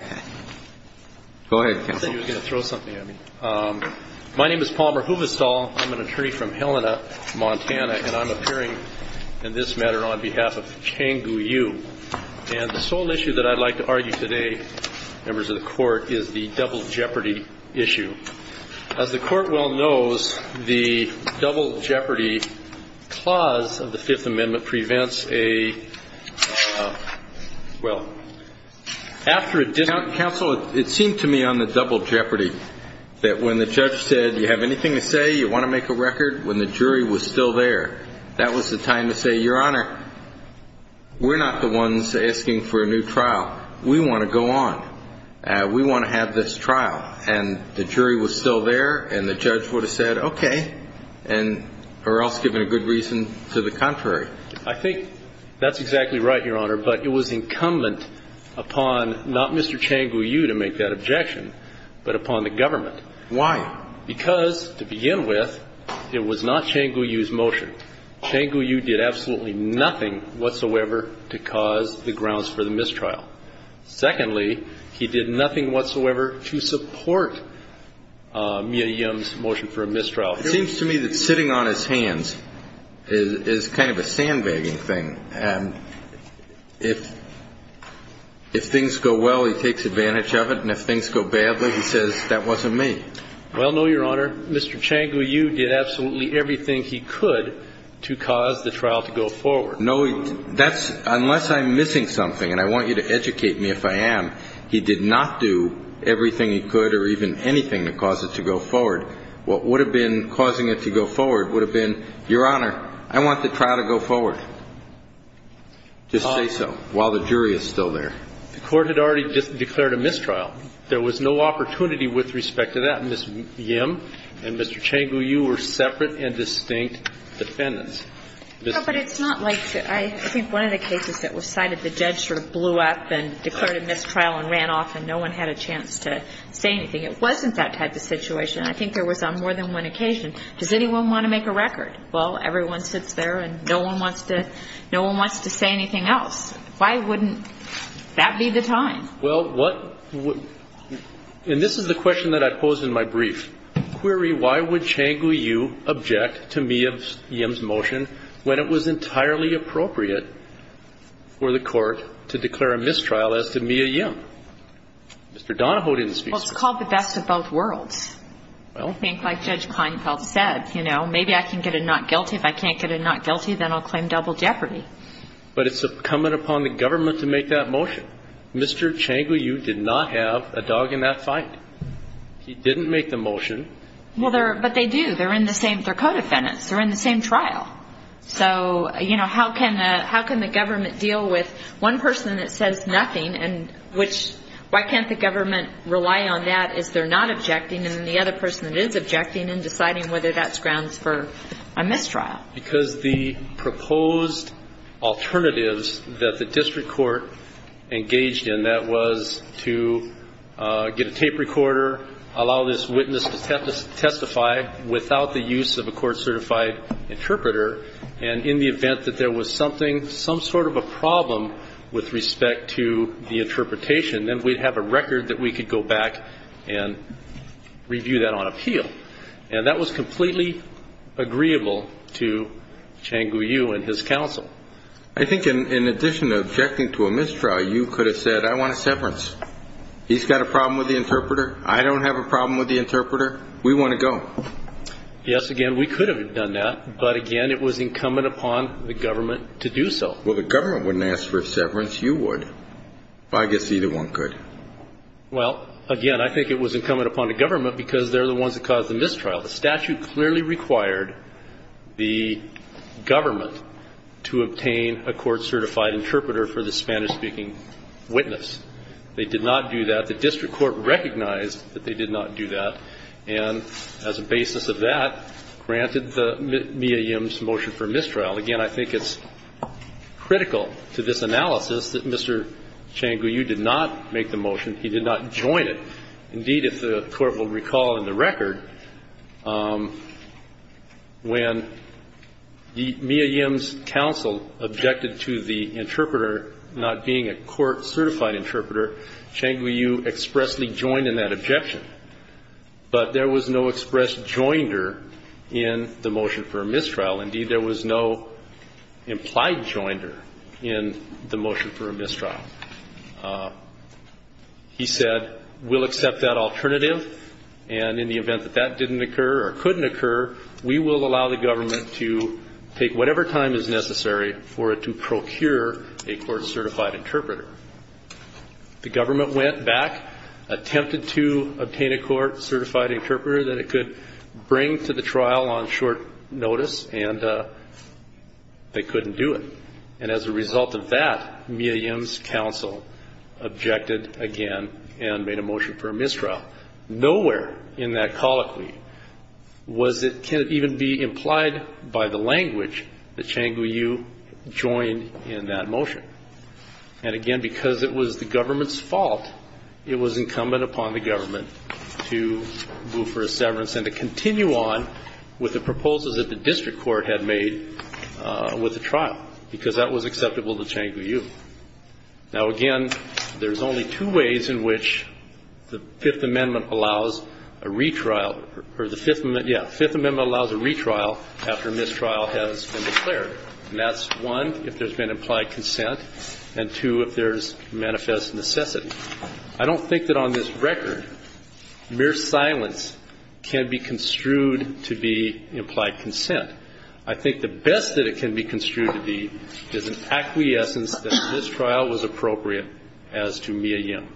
I thought you were going to throw something at me. My name is Palmer Huvestal. I'm an attorney from Helena, Montana, and I'm appearing in this matter on behalf of Chang Gu Yu. And the sole issue that I'd like to argue today, members of the Court, is the double jeopardy issue. As the Court well knows, the double jeopardy clause of the Fifth Amendment prevents a, well, after a dis- Counsel, it seemed to me on the double jeopardy that when the judge said, you have anything to say? You want to make a record? When the jury was still there, that was the time to say, Your Honor, we're not the ones asking for a new trial. We want to go on. We want to have this trial. And the jury was still there, and the judge would have said, okay, or else given a good reason, to the contrary. I think that's exactly right, Your Honor. But it was incumbent upon not Mr. Chang Gu Yu to make that objection, but upon the government. Why? Because, to begin with, it was not Chang Gu Yu's motion. Chang Gu Yu did absolutely nothing whatsoever to cause the grounds for the mistrial. Secondly, he did nothing whatsoever to support Mia Yim's motion for a mistrial. It seems to me that sitting on his hands is kind of a sandbagging thing. If things go well, he takes advantage of it, and if things go badly, he says, that wasn't me. Well, no, Your Honor. Mr. Chang Gu Yu did absolutely everything he could to cause the trial to go forward. No, that's unless I'm missing something, and I want you to educate me if I am. He did not do everything he could or even anything to cause it to go forward. What would have been causing it to go forward would have been, Your Honor, I want the trial to go forward. Just say so, while the jury is still there. The Court had already declared a mistrial. There was no opportunity with respect to that. And Ms. Yim and Mr. Chang Gu Yu were separate and distinct defendants. No, but it's not like that. I think one of the cases that was cited, the judge sort of blew up and declared a mistrial and ran off, and no one had a chance to say anything. It wasn't that type of situation. I think there was on more than one occasion. Does anyone want to make a record? Well, everyone sits there and no one wants to say anything else. Why wouldn't that be the time? Well, what – and this is the question that I posed in my brief. Query, why would Chang Gu Yu object to Mia Yim's motion when it was entirely appropriate for the Court to declare a mistrial as to Mia Yim? Mr. Donahoe didn't speak to that. Well, it's called the best of both worlds. Well, I think like Judge Kleinfeld said, you know, maybe I can get a not guilty. If I can't get a not guilty, then I'll claim double jeopardy. But it's incumbent upon the government to make that motion. Mr. Chang Gu Yu did not have a dog in that fight. He didn't make the motion. Well, they're – but they do. They're in the same – they're co-defendants. They're in the same trial. So, you know, how can the government deal with one person that says nothing and which – why can't the government rely on that as they're not objecting and the other person that is objecting and deciding whether that's grounds for a mistrial? Because the proposed alternatives that the district court engaged in, that was to get a tape recorder, allow this witness to testify without the use of a court-certified interpreter, and in the event that there was something – some sort of a problem with respect to the interpretation, then we'd have a record that we could go back and review that on appeal. And that was completely agreeable to Chang Gu Yu and his counsel. I think in addition to objecting to a mistrial, you could have said, I want a severance. He's got a problem with the interpreter. I don't have a problem with the interpreter. We want to go. Yes, again, we could have done that, but, again, it was incumbent upon the government to do so. Well, the government wouldn't ask for a severance. You would. Well, I guess either one could. Well, again, I think it was incumbent upon the government because they're the ones that caused the mistrial. The statute clearly required the government to obtain a court-certified interpreter for the Spanish-speaking witness. They did not do that. The district court recognized that they did not do that and, as a basis of that, granted the Mia Yims motion for mistrial. Again, I think it's critical to this analysis that Mr. Chang Gu Yu did not make the motion. He did not join it. Indeed, if the Court will recall in the record, when Mia Yims' counsel objected to the interpreter not being a court-certified interpreter, Chang Gu Yu expressly joined in that objection. But there was no express joinder in the motion for a mistrial. Indeed, there was no implied joinder in the motion for a mistrial. He said, we'll accept that alternative, and in the event that that didn't occur or couldn't occur, we will allow the government to take whatever time is necessary for it to procure a court-certified interpreter. The government went back, attempted to obtain a court-certified interpreter that it could bring to the trial on short notice, and they couldn't do it. And as a result of that, Mia Yims' counsel objected again and made a motion for a mistrial. Nowhere in that colloquy was it, can it even be implied by the language that Chang Gu Yu joined in that motion. And again, because it was the government's fault, it was incumbent upon the government to move for a severance and to continue on with the proposals that the district court had made with the trial, because that was acceptable to Chang Gu Yu. Now again, there's only two ways in which the Fifth Amendment allows a retrial, or the Fifth, yeah, Fifth Amendment allows a retrial after mistrial has been declared. And that's one, if there's been implied consent, and two, if there's manifest necessity. I don't think that on this record, mere silence can be construed to be implied consent. I think the best that it can be construed to be is an acquiescence that this trial was appropriate as to Mia Yim.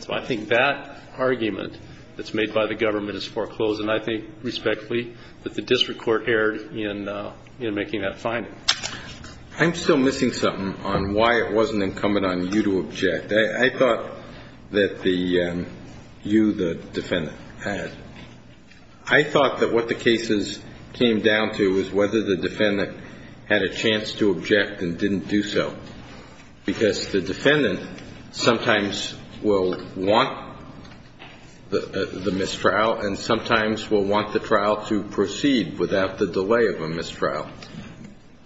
So I think that argument that's made by the government is foreclosed. And I think respectfully that the district court erred in making that finding. I'm still missing something on why it wasn't incumbent on you to object. I thought that you, the defendant, had. I thought that what the cases came down to was whether the defendant had a chance to object and didn't do so, because the defendant sometimes will want the mistrial, and sometimes will want the trial to proceed without the delay of a mistrial.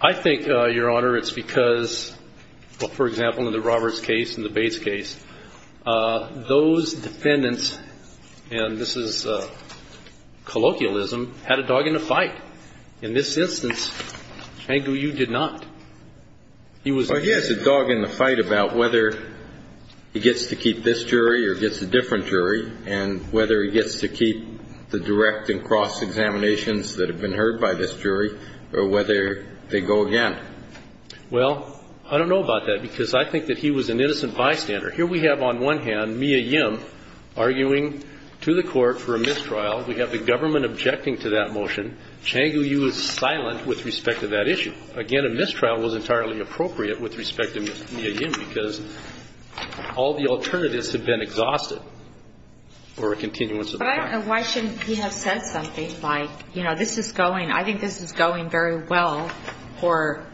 I think, Your Honor, it's because, for example, in the Roberts case and the Bates case, those defendants, and this is colloquialism, had a dog in the fight. In this instance, Hengu Yu did not. He was- Well, he has a dog in the fight about whether he gets to keep this jury or gets a different jury, and whether he gets to keep the direct and cross examinations that have been heard by this jury, or whether they go again. Well, I don't know about that, because I think that he was an innocent bystander. Here we have, on one hand, Mia Yim arguing to the court for a mistrial. We have the government objecting to that motion. Hengu Yu is silent with respect to that issue. Again, a mistrial was entirely appropriate with respect to Mia Yim, because all the alternatives have been exhausted for a continuance of the trial. But why shouldn't he have said something like, you know, this is going. I mean, I think this is going very well for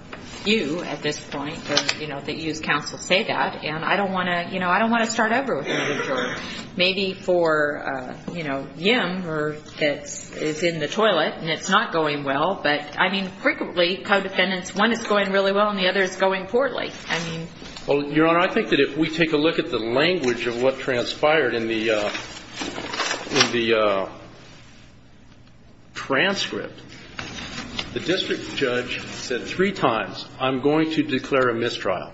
you at this point, or, you know, that you as counsel say that. And I don't want to, you know, I don't want to start over with Hengu Yu, or maybe for, you know, Yim, or it's in the toilet, and it's not going well. But, I mean, frequently, co-defendants, one is going really well, and the other is going poorly. I mean- Well, Your Honor, I think that if we take a look at the language of what transpired in the transcript, the district judge said three times, I'm going to declare a mistrial.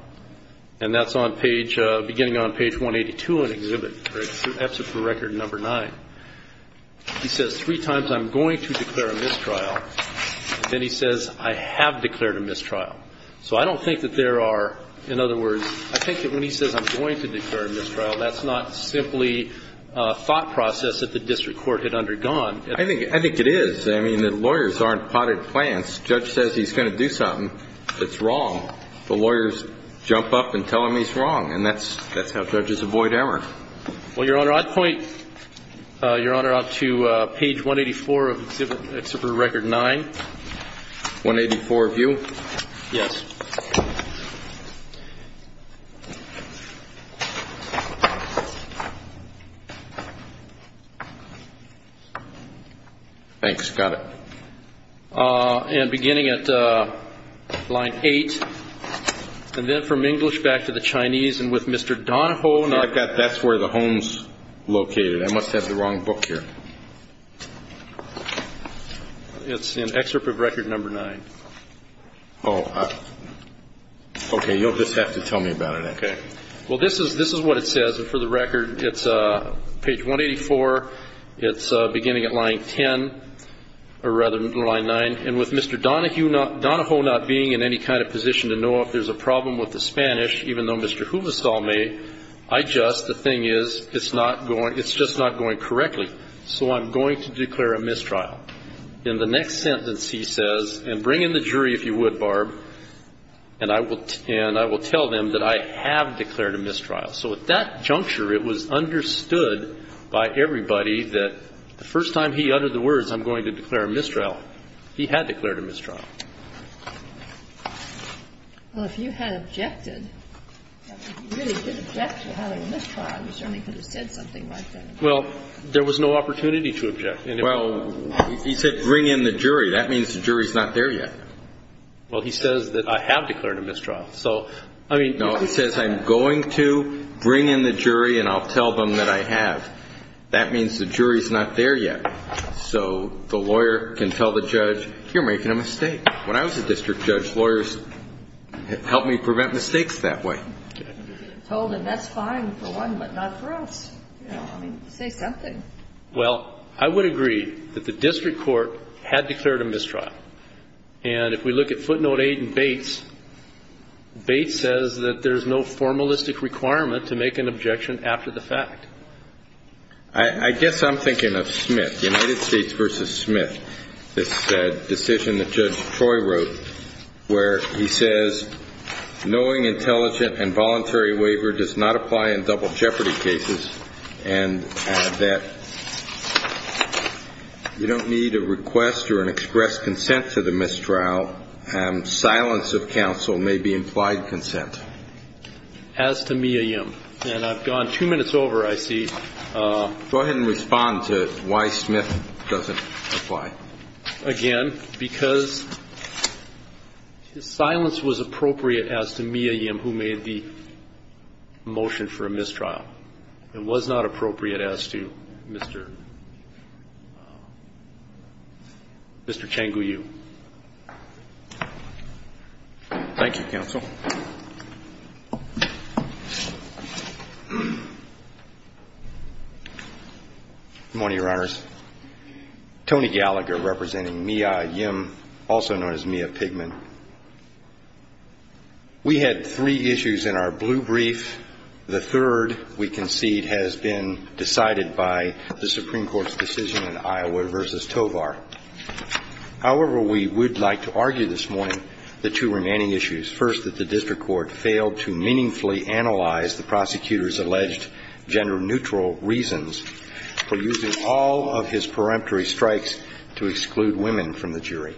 And that's on page, beginning on page 182 in Exhibit, EPSA for Record Number 9. He says three times, I'm going to declare a mistrial. Then he says, I have declared a mistrial. So I don't think that there are, in other words, I think that when he says, I'm going to declare a mistrial, that's not simply a thought process that the district court had undergone. I think it is. I mean, the lawyers aren't potted plants. Judge says he's going to do something that's wrong. The lawyers jump up and tell him he's wrong. And that's how judges avoid error. Well, Your Honor, I'd point Your Honor out to page 184 of Exhibit, Exhibit for Record 9. 184 of you? Yes. Thanks. Got it. And beginning at line 8, and then from English back to the Chinese, and with Mr. Donahoe. I've got, that's where the home's located. I must have the wrong book here. It's in Exhibit for Record Number 9. Oh. Okay. This is what it says. And for the record, it's page 184. It's beginning at line 10, or rather, line 9. And with Mr. Donahoe not being in any kind of position to know if there's a problem with the Spanish, even though Mr. Huvasol may, I just, the thing is, it's not going, it's just not going correctly. So, I'm going to declare a mistrial. In the next sentence, he says, and bring in the jury if you would, Barb, and I will tell them that I have declared a mistrial. So, at that juncture, it was understood by everybody that the first time he uttered the words, I'm going to declare a mistrial, he had declared a mistrial. Well, if you had objected, if you really did object to having a mistrial, you certainly could have said something like that. Well, there was no opportunity to object. Well, he said, bring in the jury. That means the jury's not there yet. Well, he says that I have declared a mistrial. So, I mean. No, he says, I'm going to bring in the jury and I'll tell them that I have. That means the jury's not there yet. So, the lawyer can tell the judge, you're making a mistake. When I was a district judge, lawyers helped me prevent mistakes that way. Told him, that's fine for one, but not for us. You know, I mean, say something. Well, I would agree that the district court had declared a mistrial. And if we look at footnote 8 in Bates, Bates says that there's no formalistic requirement to make an objection after the fact. I guess I'm thinking of Smith, United States v. Smith, this decision that Judge Troy wrote, where he says, knowing intelligent and voluntary waiver does not apply in double jeopardy cases, and that you don't need a request or an express consent to the mistrial, silence of counsel may be implied consent. As to Mia Yim, and I've gone two minutes over, I see. Go ahead and respond to why Smith doesn't apply. Again, because silence was appropriate as to Mia Yim, who made the motion for a mistrial. It was not appropriate as to Mr. Changu Yu. Thank you, counsel. Good morning, Your Honors. Tony Gallagher representing Mia Yim, also known as Mia Pigman. We had three issues in our blue brief. The third, we concede, has been decided by the Supreme Court's decision in Iowa v. Tovar. However, we would like to argue this morning the two remaining issues. First, that the district court failed to meaningfully analyze the prosecutor's alleged gender neutral reasons for using all of his peremptory strikes to exclude women from the jury.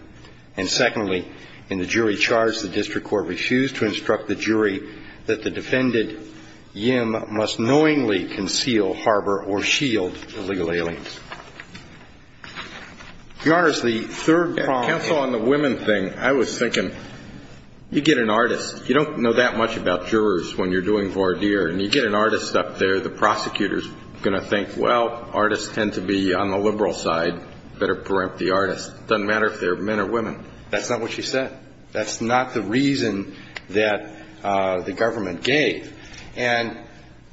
And secondly, in the jury charge, the district court refused to instruct the jury that the defendant, Yim, must knowingly conceal, harbor, or shield illegal aliens. Your Honors, the third problem. Counsel, on the women thing, I was thinking, you get an artist. You don't know that much about jurors when you're doing voir dire. And you get an artist up there, the prosecutor's going to think, well, artists tend to be on the liberal side, better perempt the artist. It doesn't matter if they're men or women. That's not what she said. That's not the reason that the government gave. And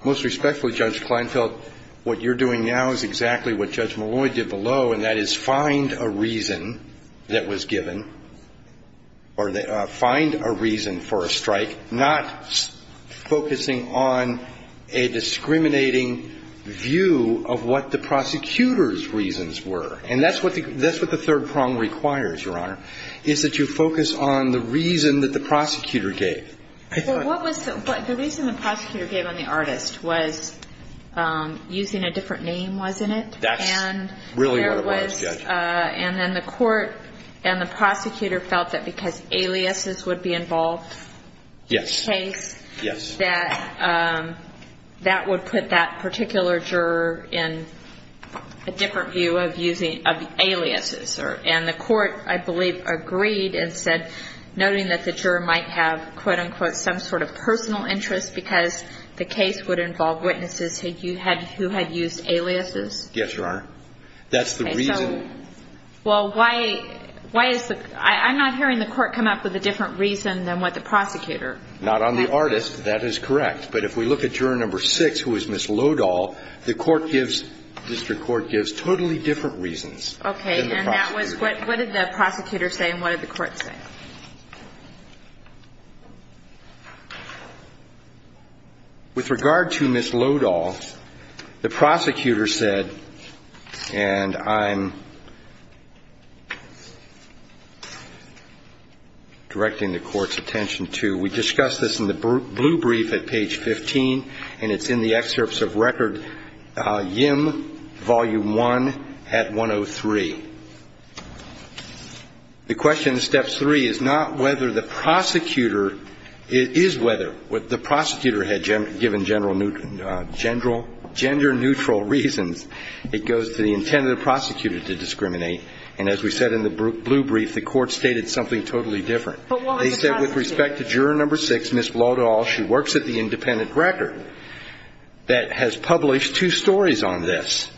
most respectfully, Judge Kleinfeld, what you're doing now is exactly what Judge Malloy did below, and that is find a reason that was given, or find a reason for a strike, not focusing on a discriminating view of what the prosecutor's reasons were. And that's what the third problem requires, Your Honor, is that you focus on the reason that the prosecutor gave. Well, what was the reason the prosecutor gave on the artist was using a different name, wasn't it? That's really what it was, Judge. And then the court and the prosecutor felt that because aliases would be involved in the case, that that would put that particular juror in a different view of using aliases. And the court, I believe, agreed and said, noting that the juror might have, quote, unquote, some sort of personal interest because the case would involve witnesses who had used aliases. Yes, Your Honor. That's the reason. Okay. So, well, why is the – I'm not hearing the court come up with a different reason than what the prosecutor. Not on the artist. That is correct. Okay. And that was – what did the prosecutor say and what did the court say? With regard to Ms. Lodahl, the prosecutor said, and I'm directing the court's attention to – we discussed this in the blue brief at page 15, and it's in the The question in step three is not whether the prosecutor – it is whether the prosecutor had given general – gender neutral reasons. It goes to the intent of the prosecutor to discriminate. And as we said in the blue brief, the court stated something totally different. They said with respect to juror number six, Ms. Lodahl, she works at the Independent Record that has published two stories on this.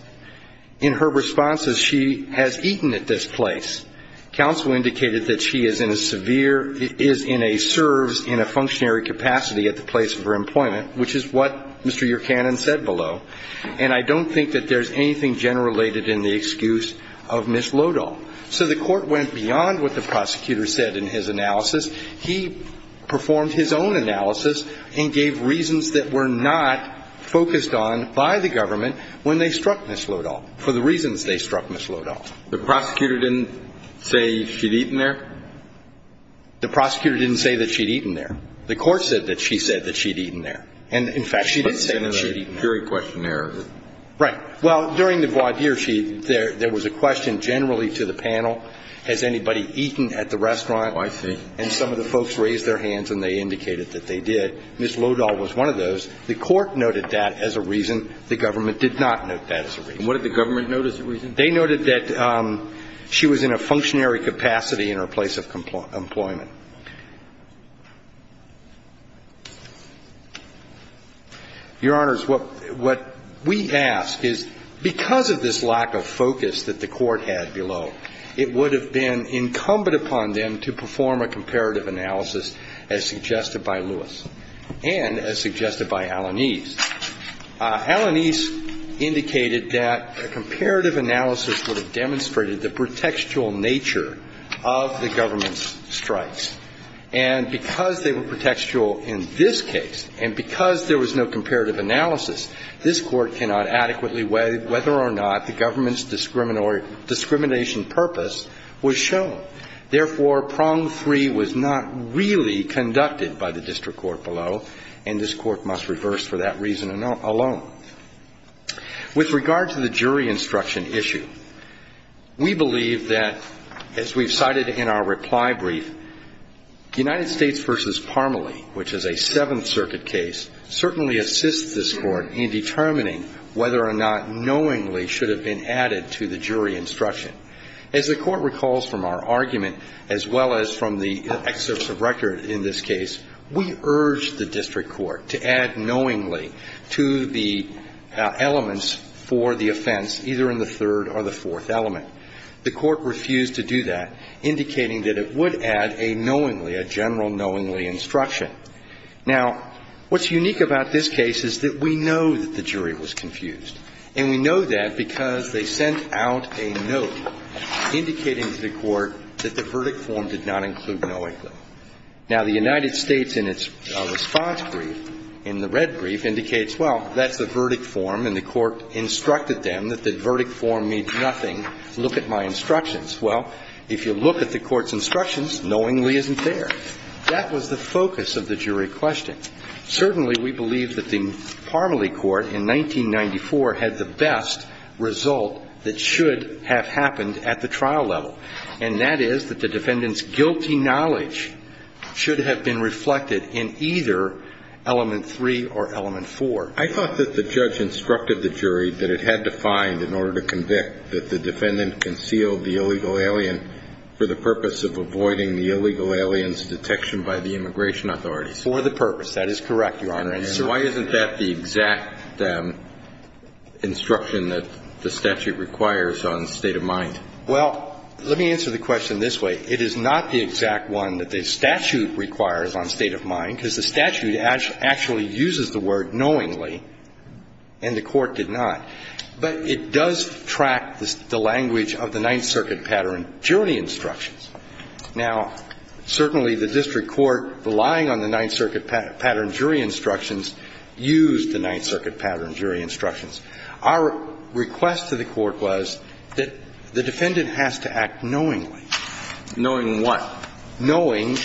In her responses, she has eaten at this place. Counsel indicated that she is in a severe – is in a – serves in a functionary capacity at the place of her employment, which is what Mr. Yurkanin said below. And I don't think that there's anything gender-related in the excuse of Ms. Lodahl. So the court went beyond what the prosecutor said in his analysis. He performed his own analysis and gave reasons that were not focused on by the Ms. Lodahl for the reasons they struck Ms. Lodahl. The prosecutor didn't say she'd eaten there? The prosecutor didn't say that she'd eaten there. The court said that she said that she'd eaten there. And, in fact, she did say that she'd eaten there. But it's in the jury questionnaire. Right. Well, during the voir dire, she – there was a question generally to the panel, has anybody eaten at the restaurant? Oh, I see. And some of the folks raised their hands, and they indicated that they did. Ms. Lodahl was one of those. The court noted that as a reason. The government did not note that as a reason. And what did the government note as a reason? They noted that she was in a functionary capacity in her place of employment. Your Honors, what we ask is, because of this lack of focus that the court had below, it would have been incumbent upon them to perform a comparative analysis, as suggested by Lewis and as suggested by Alanis. Alanis indicated that a comparative analysis would have demonstrated the pretextual nature of the government's strikes. And because they were pretextual in this case, and because there was no comparative analysis, this Court cannot adequately weigh whether or not the government's discrimination purpose was shown. Therefore, prong three was not really conducted by the district court below, and this Court must reverse for that reason alone. With regard to the jury instruction issue, we believe that, as we've cited in our reply brief, United States v. Parmelee, which is a Seventh Circuit case, certainly assists this Court in determining whether or not knowingly should have been added to the jury instruction. As the Court recalls from our argument, as well as from the excerpts of record in this case, we urged the district court to add knowingly to the elements for the offense, either in the third or the fourth element. The Court refused to do that, indicating that it would add a knowingly, a general knowingly instruction. Now, what's unique about this case is that we know that the jury was confused. And we know that because they sent out a note indicating to the Court that the verdict form did not include knowingly. Now, the United States, in its response brief, in the red brief, indicates, well, that's the verdict form, and the Court instructed them that the verdict form means nothing. Look at my instructions. Well, if you look at the Court's instructions, knowingly isn't there. That was the focus of the jury question. Certainly, we believe that the Parmelee Court in 1994 had the best result that should have happened at the trial level, and that is that the defendant's guilty knowledge should have been reflected in either element three or element four. I thought that the judge instructed the jury that it had to find, in order to convict, that the defendant concealed the illegal alien for the purpose of avoiding the illegal alien's detection by the immigration authorities. For the purpose. That is correct, Your Honor. And so why isn't that the exact instruction that the statute requires on state-of-mind? Well, let me answer the question this way. It is not the exact one that the statute requires on state-of-mind, because the statute actually uses the word knowingly, and the Court did not. But it does track the language of the Ninth Circuit pattern jury instructions. Now, certainly the district court, relying on the Ninth Circuit pattern jury instructions, used the Ninth Circuit pattern jury instructions. Our request to the Court was that the defendant has to act knowingly. Knowing what? Knowing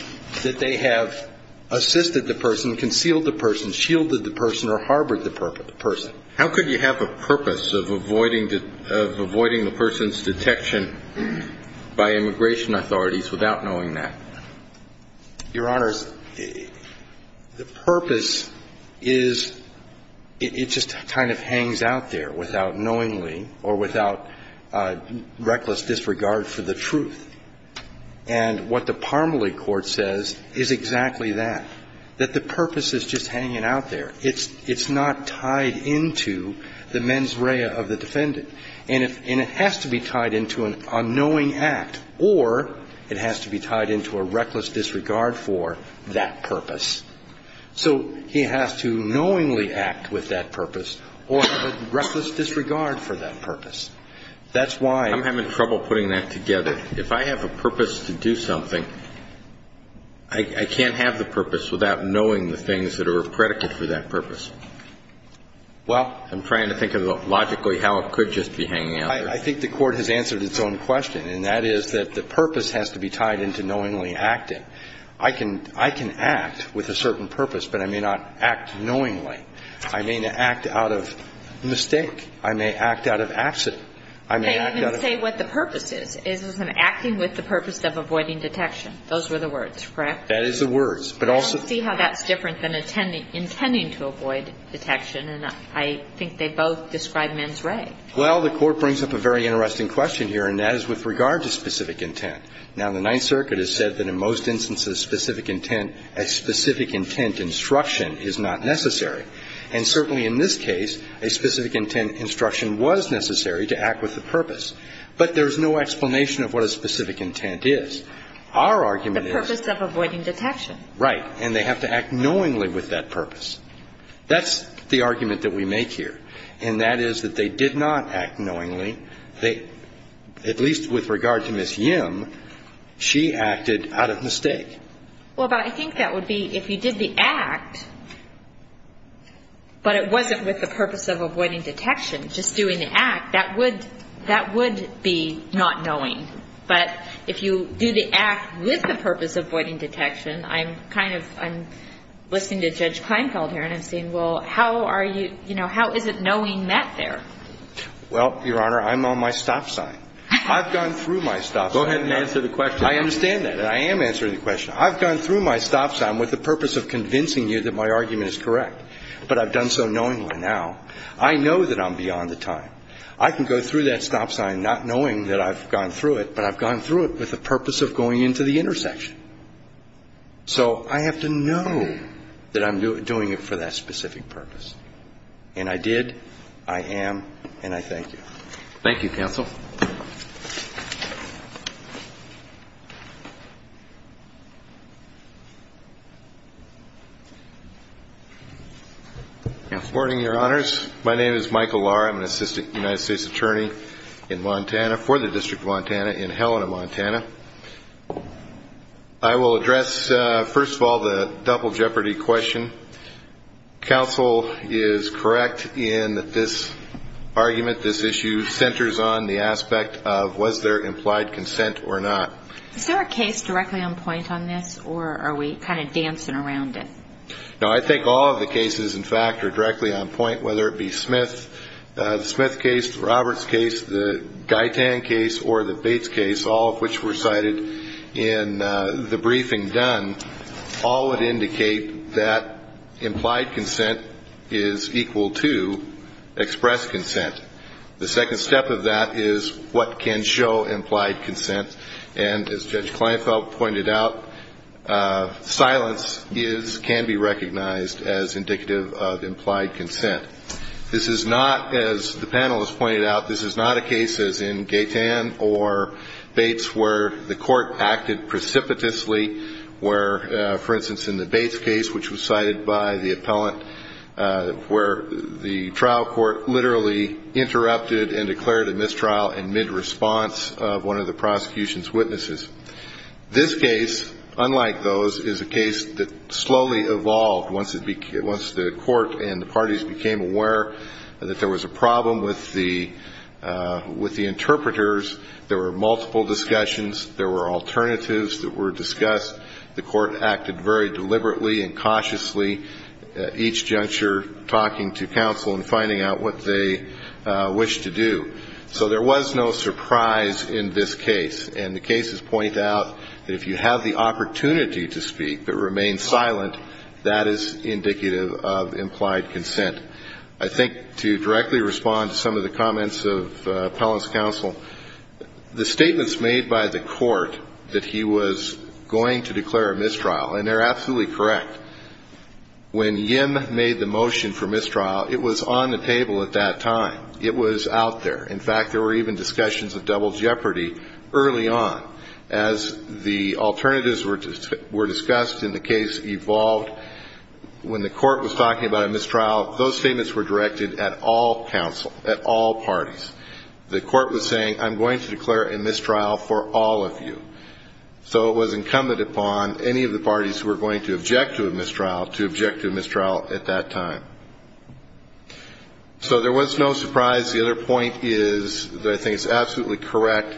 that they have assisted the person, concealed the person, shielded the person, or harbored the person. How could you have a purpose of avoiding the person's detection by immigration authorities without knowing that? Your Honors, the purpose is, it just kind of hangs out there without knowingly or without reckless disregard for the truth. And what the Parmelee Court says is exactly that, that the purpose is just hanging out there. It's not tied into the mens rea of the defendant. And it has to be tied into an unknowing act, or it has to be tied into a reckless disregard for that purpose. So he has to knowingly act with that purpose or have a reckless disregard for that purpose. That's why. I'm having trouble putting that together. If I have a purpose to do something, I can't have the purpose without knowing the things that are a predicate for that purpose. Well. I'm trying to think logically how it could just be hanging out there. I think the Court has answered its own question, and that is that the purpose has to be tied into knowingly acting. I can act with a certain purpose, but I may not act knowingly. I may act out of mistake. I may act out of accident. I may act out of. I didn't say what the purpose is. It was an acting with the purpose of avoiding detection. Those were the words, correct? That is the words. But also. I don't see how that's different than intending to avoid detection, and I think they both describe men's rig. Well, the Court brings up a very interesting question here, and that is with regard to specific intent. Now, the Ninth Circuit has said that in most instances, specific intent, a specific intent instruction is not necessary. And certainly in this case, a specific intent instruction was necessary to act with the purpose. But there's no explanation of what a specific intent is. Our argument is. The purpose of avoiding detection. Right. And they have to act knowingly with that purpose. That's the argument that we make here. And that is that they did not act knowingly. At least with regard to Ms. Yim, she acted out of mistake. Well, but I think that would be if you did the act, but it wasn't with the purpose of avoiding detection, just doing the act, that would be not knowing. But if you do the act with the purpose of avoiding detection, I'm kind of, I'm listening to Judge Kleinfeld here, and I'm saying, well, how are you, you know, how is it knowing that there? Well, Your Honor, I'm on my stop sign. I've gone through my stop sign. Go ahead and answer the question. I understand that. I am answering the question. I've gone through my stop sign with the purpose of convincing you that my argument is correct. But I've done so knowingly now. I know that I'm beyond the time. I can go through that stop sign not knowing that I've gone through it, but I've gone through it with the purpose of going into the intersection. So I have to know that I'm doing it for that specific purpose. And I did, I am, and I thank you. Thank you, counsel. Good morning, Your Honors. My name is Michael Lahr. I'm an assistant United States attorney in Montana for the District of Montana in Helena, Montana. I will address, first of all, the double jeopardy question. Counsel is correct in that this argument, this issue, centers on the act of was there implied consent or not. Is there a case directly on point on this, or are we kind of dancing around it? No, I think all of the cases, in fact, are directly on point, whether it be Smith, the Smith case, the Roberts case, the Gaitan case, or the Bates case, all of which were cited in the briefing done. All would indicate that implied consent is equal to expressed consent. The second step of that is what can show implied consent. And as Judge Kleinfeld pointed out, silence is, can be recognized as indicative of implied consent. This is not, as the panelists pointed out, this is not a case as in Gaitan or Bates where the court acted precipitously, where, for instance, in the Bates case, which was cited by the and declared a mistrial in mid-response of one of the prosecution's witnesses. This case, unlike those, is a case that slowly evolved once the court and the parties became aware that there was a problem with the interpreters. There were multiple discussions. There were alternatives that were discussed. The court acted very deliberately and cautiously at each juncture, talking to counsel and finding out what they wished to do. So there was no surprise in this case. And the cases point out that if you have the opportunity to speak but remain silent, that is indicative of implied consent. I think to directly respond to some of the comments of appellant's counsel, the statements made by the court that he was going to declare a mistrial, and they're absolutely correct. When Yim made the motion for mistrial, it was on the table at that time. It was out there. In fact, there were even discussions of double jeopardy early on. As the alternatives were discussed and the case evolved, when the court was talking about a mistrial, those statements were directed at all counsel, at all parties. The court was saying, I'm going to declare a mistrial for all of you. So it was incumbent upon any of the parties who were going to object to a mistrial to object to a mistrial at that time. So there was no surprise. The other point is that I think it's absolutely correct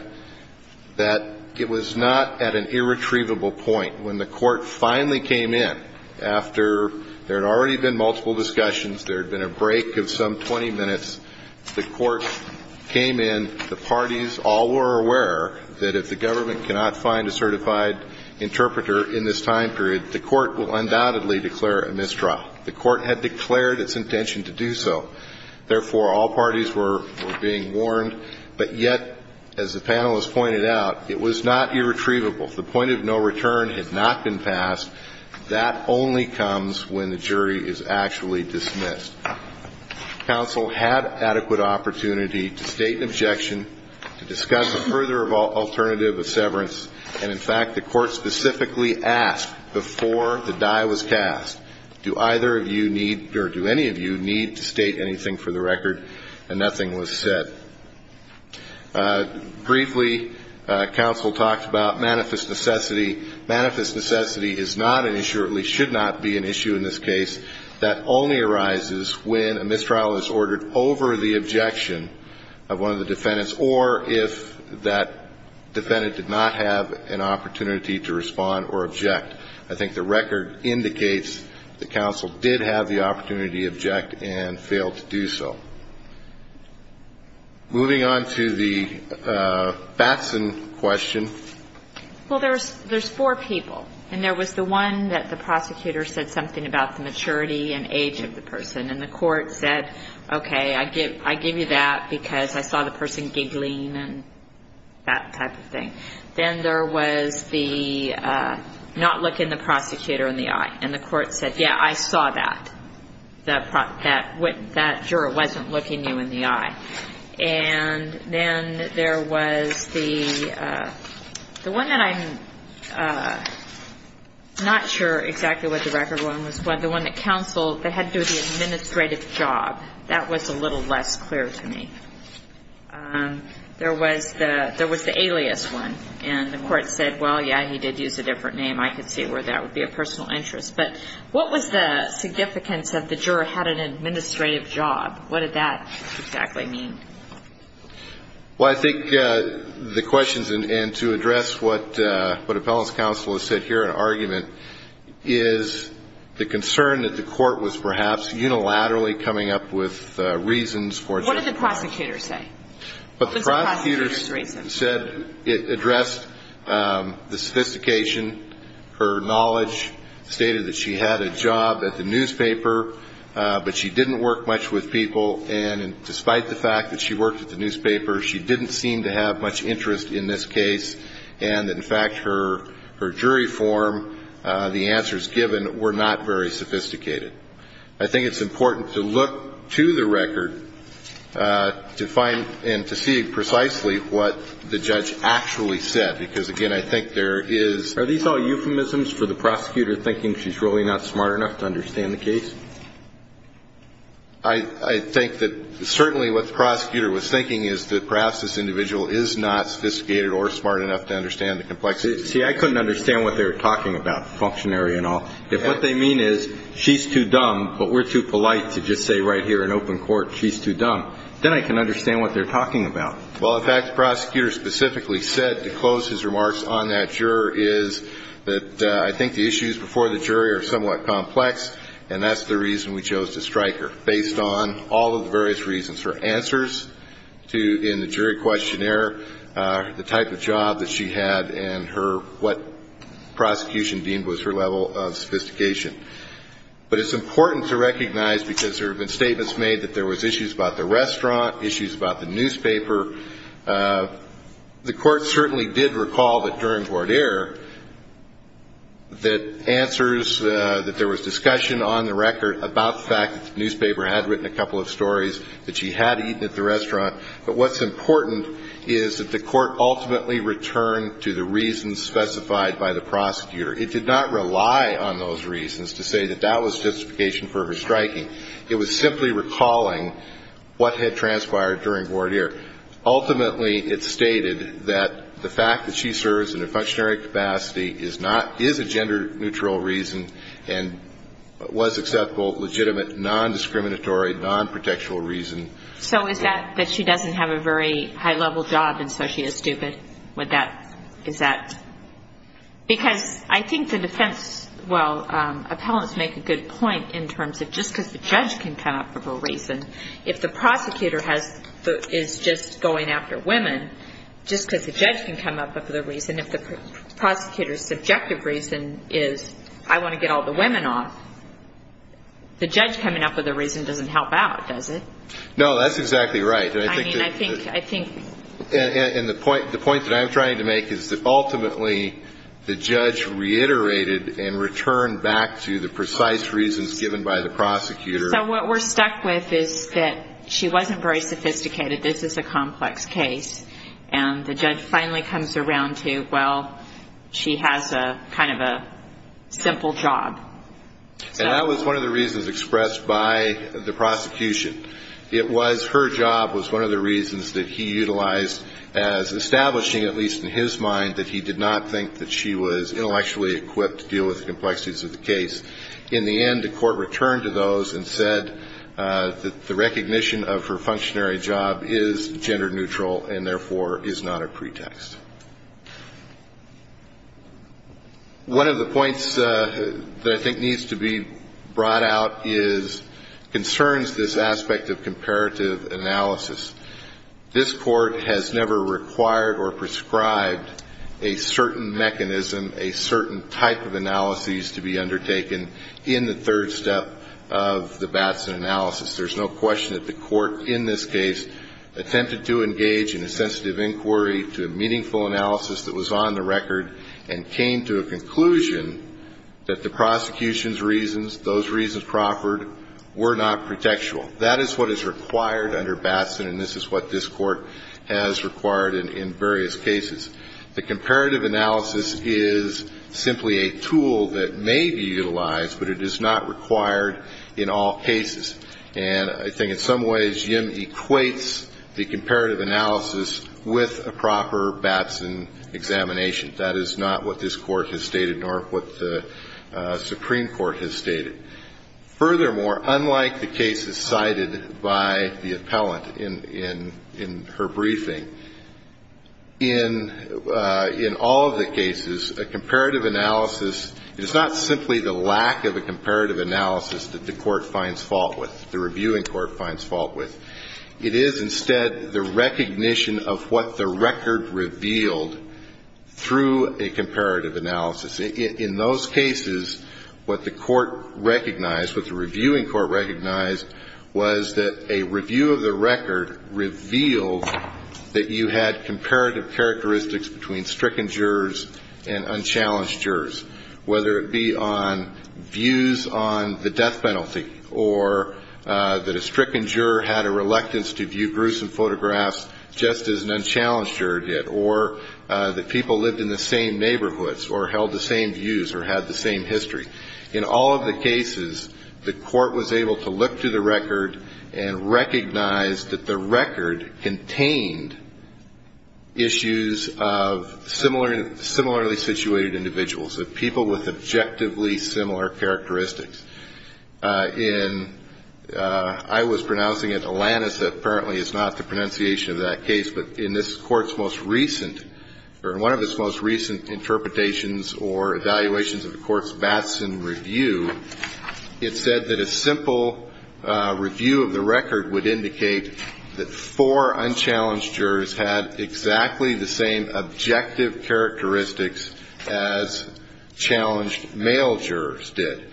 that it was not at an irretrievable point. When the court finally came in after there had already been multiple discussions, there had been a break of some 20 minutes, the court came in, the parties all were aware that if the government cannot find a certified interpreter in this time period, the court will undoubtedly declare a mistrial. The court had declared its intention to do so. Therefore, all parties were being warned. But yet, as the panelists pointed out, it was not irretrievable. The point of no return had not been passed. That only comes when the jury is actually dismissed. Counsel had adequate opportunity to state an objection, to discuss a further alternative of severance. And, in fact, the court specifically asked before the die was cast, do either of you need or do any of you need to state anything for the record? And nothing was said. Briefly, counsel talked about manifest necessity. Manifest necessity is not an issue, at least should not be an issue in this case. That only arises when a mistrial is ordered over the objection of one of the defendants or if that defendant did not have an opportunity to respond or object. I think the record indicates that counsel did have the opportunity to object and failed to do so. Moving on to the Batson question. Well, there's four people. And there was the one that the prosecutor said something about the maturity and age of the person. And the court said, okay, I give you that because I saw the person giggling and that type of thing. Then there was the not looking the prosecutor in the eye. And the court said, yeah, I saw that. That juror wasn't looking you in the eye. And then there was the one that I'm not sure exactly what the record one was, but the one that counsel that had to do with the administrative job. That was a little less clear to me. There was the alias one. And the court said, well, yeah, he did use a different name. I could see where that would be a personal interest. But what was the significance that the juror had an administrative job? What did that exactly mean? Well, I think the questions, and to address what appellant's counsel has said here in argument, is the concern that the court was perhaps unilaterally coming up with reasons for it. What did the prosecutor say? The prosecutor said it addressed the sophistication. Her knowledge stated that she had a job at the newspaper, but she didn't work much with people. And despite the fact that she worked at the newspaper, she didn't seem to have much interest in this case. And, in fact, her jury form, the answers given, were not very sophisticated. I think it's important to look to the record to find and to see precisely what the judge actually said, because, again, I think there is. Are these all euphemisms for the prosecutor thinking she's really not smart enough to understand the case? I think that certainly what the prosecutor was thinking is that perhaps this individual is not sophisticated or smart enough to understand the complexities. See, I couldn't understand what they were talking about, the functionary and all. If what they mean is she's too dumb, but we're too polite to just say right here in open court she's too dumb, then I can understand what they're talking about. Well, in fact, the prosecutor specifically said, to close his remarks on that juror, is that I think the issues before the jury are somewhat complex, and that's the reason we chose to strike her, based on all of the various reasons. Her answers in the jury questionnaire, the type of job that she had, and what prosecution deemed was her level of sophistication. But it's important to recognize, because there have been statements made that there was issues about the restaurant, issues about the newspaper. The court certainly did recall that during voir dire that answers, that there was discussion on the record about the fact that the newspaper had written a couple of stories, that she had eaten at the restaurant. But what's important is that the court ultimately returned to the reasons specified by the prosecutor. It did not rely on those reasons to say that that was sophistication for her striking. It was simply recalling what had transpired during voir dire. Ultimately, it stated that the fact that she serves in a functionary capacity is not, is a gender-neutral reason, and was acceptable, legitimate, nondiscriminatory, nonprotectual reason. So is that that she doesn't have a very high-level job, and so she is stupid? Would that, is that, because I think the defense, well, that's a good point in terms of just because the judge can come up with a reason. If the prosecutor has, is just going after women, just because the judge can come up with a reason, if the prosecutor's subjective reason is I want to get all the women off, the judge coming up with a reason doesn't help out, does it? No, that's exactly right. I mean, I think, I think. And the point, the point that I'm trying to make is that ultimately the judge reiterated and returned back to the precise reasons given by the prosecutor. So what we're stuck with is that she wasn't very sophisticated, this is a complex case, and the judge finally comes around to, well, she has a kind of a simple job. And that was one of the reasons expressed by the prosecution. It was her job was one of the reasons that he utilized as establishing, at least in his mind, that he did not think that she was intellectually equipped to deal with the complexities of the case. In the end, the court returned to those and said that the recognition of her functionary job is gender neutral and therefore is not a pretext. One of the points that I think needs to be brought out is concerns this aspect of comparative analysis. This court has never required or prescribed a certain mechanism, a certain type of analysis to be undertaken in the third step of the Batson analysis. There's no question that the court in this case attempted to engage in a sensitive inquiry to a meaningful analysis that was on the record and came to a conclusion that the prosecution's reasons, those reasons proffered, were not pretextual. That is what is required under Batson, and this is what this court has required in various cases. The comparative analysis is simply a tool that may be utilized, but it is not required in all cases. And I think in some ways Jim equates the comparative analysis with a proper Batson examination. That is not what this court has stated nor what the Supreme Court has stated. Furthermore, unlike the cases cited by the appellant in her briefing, in all of the cases, a comparative analysis is not simply the lack of a comparative analysis that the court finds fault with, the reviewing court finds fault with. It is instead the recognition of what the record revealed through a comparative analysis. In those cases, what the court recognized, what the reviewing court recognized, was that a review of the record revealed that you had comparative characteristics between stricken jurors and unchallenged jurors, whether it be on views on the death penalty or that a stricken juror had a reluctance to view gruesome photographs just as an unchallenged juror did or that people lived in the same neighborhoods or held the same views or had the same history. In all of the cases, the court was able to look through the record and recognize that the record contained issues of similarly situated individuals, of people with objectively similar characteristics. In, I was pronouncing it Alanisa, apparently it's not the pronunciation of that case, but in this Court's most recent, or one of its most recent interpretations or evaluations of the Court's Batson review, it said that a simple review of the record would indicate that four unchallenged jurors had exactly the same objective characteristics as challenged male jurors did.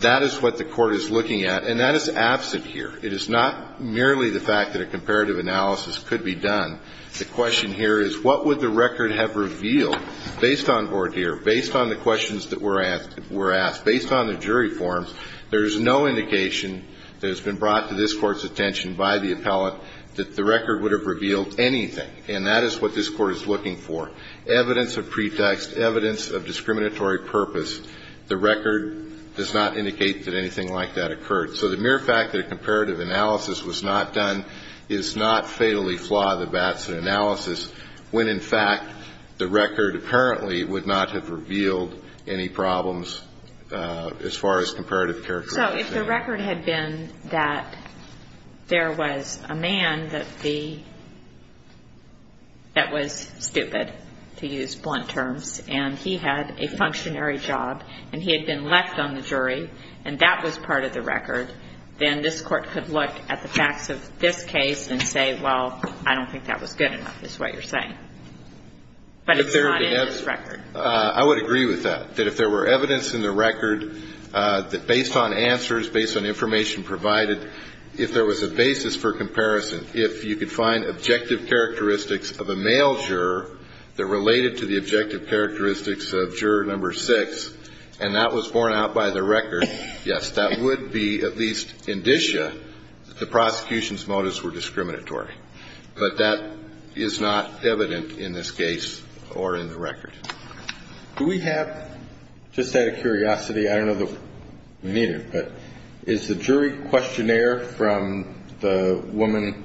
That is what the Court is looking at, and that is absent here. It is not merely the fact that a comparative analysis could be done. The question here is what would the record have revealed based on Bordier, based on the questions that were asked, based on the jury forms. There is no indication that has been brought to this Court's attention by the appellate that the record would have revealed anything, and that is what this Court is looking for, evidence of pretext, evidence of discriminatory purpose. The record does not indicate that anything like that occurred. So the mere fact that a comparative analysis was not done is not fatally flawed, the Batson analysis, when, in fact, the record apparently would not have revealed any problems as far as comparative characteristics. So if the record had been that there was a man that the, that was stupid, to use blunt terms, and he had a functionary job, and he had been left on the jury, and that was part of the record, then this Court could look at the facts of this case and say, well, I don't think that was good enough is what you're saying. But it's not in this record. I would agree with that, that if there were evidence in the record that based on answers, based on information provided, if there was a basis for comparison, if you could find objective characteristics of a male juror that related to the objective and that was borne out by the record, yes, that would be at least indicia that the prosecution's motives were discriminatory. But that is not evident in this case or in the record. Do we have, just out of curiosity, I don't know that we need it, but is the jury questionnaire from the woman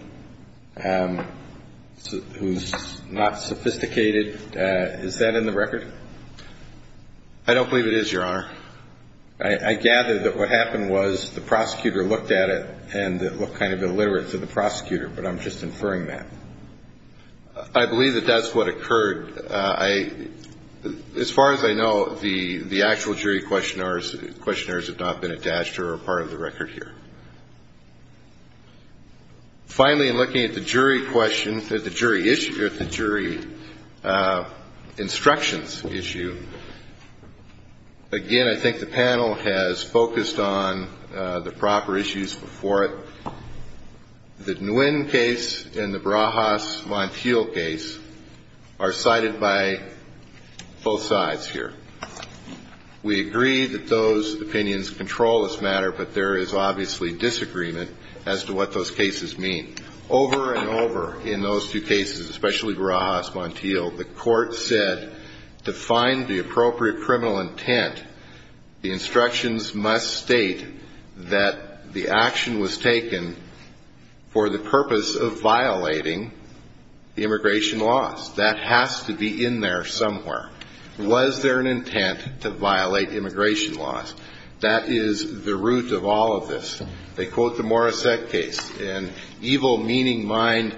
who's not sophisticated, is that in the record? I don't believe it is, Your Honor. I gather that what happened was the prosecutor looked at it and it looked kind of illiterate to the prosecutor, but I'm just inferring that. I believe that that's what occurred. As far as I know, the actual jury questionnaires have not been attached or are part of the record here. Finally, in looking at the jury questions, at the jury instructions issue, again, I think the panel has focused on the proper issues before it. The Nguyen case and the Brajas Montiel case are cited by both sides here. We agree that those opinions control this matter, but there is obviously disagreement as to what those cases mean. Over and over in those two cases, especially Brajas Montiel, the court said to find the appropriate criminal intent, the instructions must state that the action was taken for the purpose of violating the immigration laws. That has to be in there somewhere. Was there an intent to violate immigration laws? That is the root of all of this. They quote the Morrissette case, an evil-meaning mind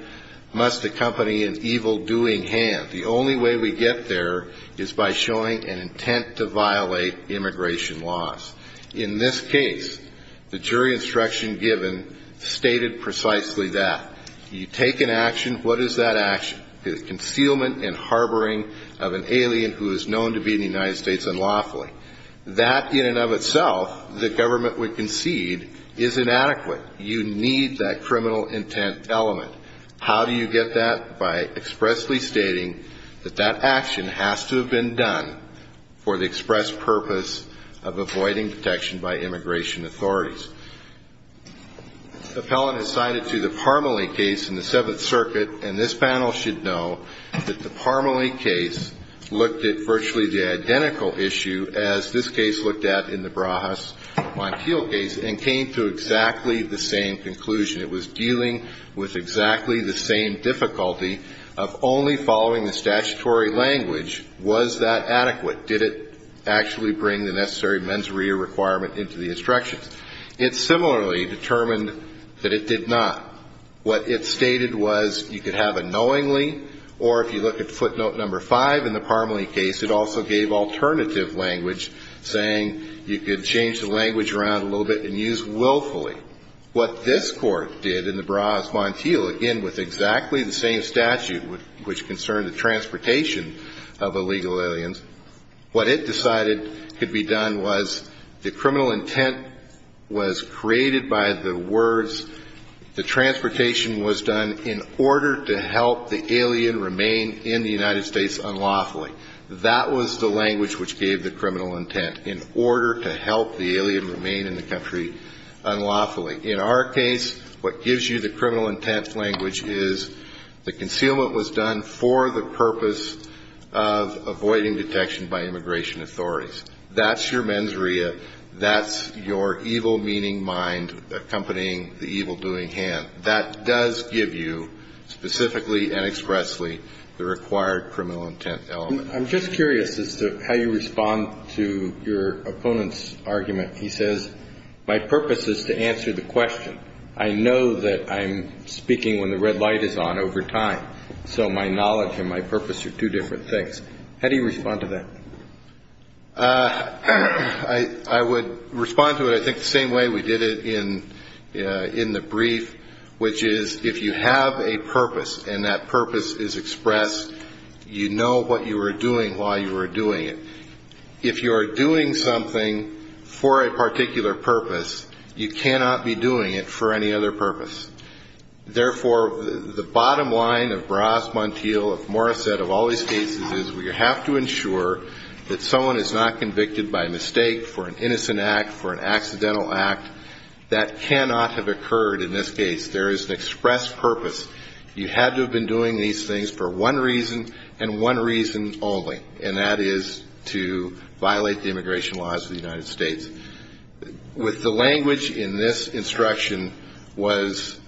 must accompany an evil-doing hand. The only way we get there is by showing an intent to violate immigration laws. In this case, the jury instruction given stated precisely that. You take an action, what is that action? It is concealment and harboring of an alien who is known to be in the United States unlawfully. That in and of itself, the government would concede, is inadequate. You need that criminal intent element. How do you get that? By expressly stating that that action has to have been done for the express purpose of avoiding detection by immigration authorities. The appellant is cited to the Parmelee case in the Seventh Circuit, and this panel should know that the Parmelee case looked at virtually the identical issue as this case looked at in the Brahas-Monteal case and came to exactly the same conclusion. It was dealing with exactly the same difficulty of only following the statutory language. Was that adequate? Did it actually bring the necessary mens rea requirement into the instructions? It similarly determined that it did not. What it stated was you could have a knowingly, or if you look at footnote number five in the Parmelee case, it also gave alternative language saying you could change the language around a little bit and use willfully. What this court did in the Brahas-Monteal, again, with exactly the same statute, which concerned the transportation of illegal aliens, what it decided could be done was the criminal intent was created by the words the transportation was done in order to help the alien remain in the United States unlawfully. That was the language which gave the criminal intent, in order to help the alien remain in the country unlawfully. In our case, what gives you the criminal intent language is the concealment was done for the purpose of avoiding detection by immigration authorities. That's your mens rea. That's your evil-meaning mind accompanying the evil-doing hand. That does give you, specifically and expressly, the required criminal intent element. I'm just curious as to how you respond to your opponent's argument. He says, my purpose is to answer the question. I know that I'm speaking when the red light is on over time, so my knowledge and my purpose are two different things. How do you respond to that? I would respond to it, I think, the same way we did it in the brief, which is if you have a purpose and that purpose is expressed, you know what you are doing while you are doing it. If you are doing something for a particular purpose, you cannot be doing it for any other purpose. Therefore, the bottom line of Bras, Montiel, of Morissette, of all these cases, is we have to ensure that someone is not convicted by mistake for an innocent act, for an accidental act. That cannot have occurred in this case. There is an expressed purpose. You had to have been doing these things for one reason and one reason only, and that is to violate the immigration laws of the United States. With the language in this instruction was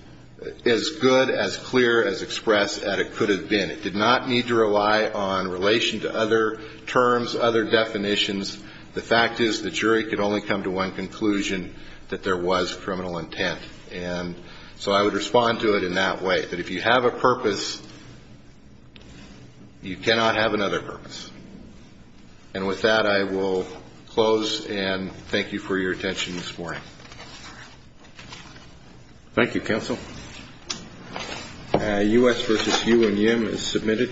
as good, as clear, as expressed as it could have been. It did not need to rely on relation to other terms, other definitions. The fact is the jury could only come to one conclusion, that there was criminal intent. And so I would respond to it in that way, that if you have a purpose, you cannot have another purpose. And with that, I will close and thank you for your attention this morning. Thank you, Counsel. U.S. v. Hu and Yim is submitted. Thank you.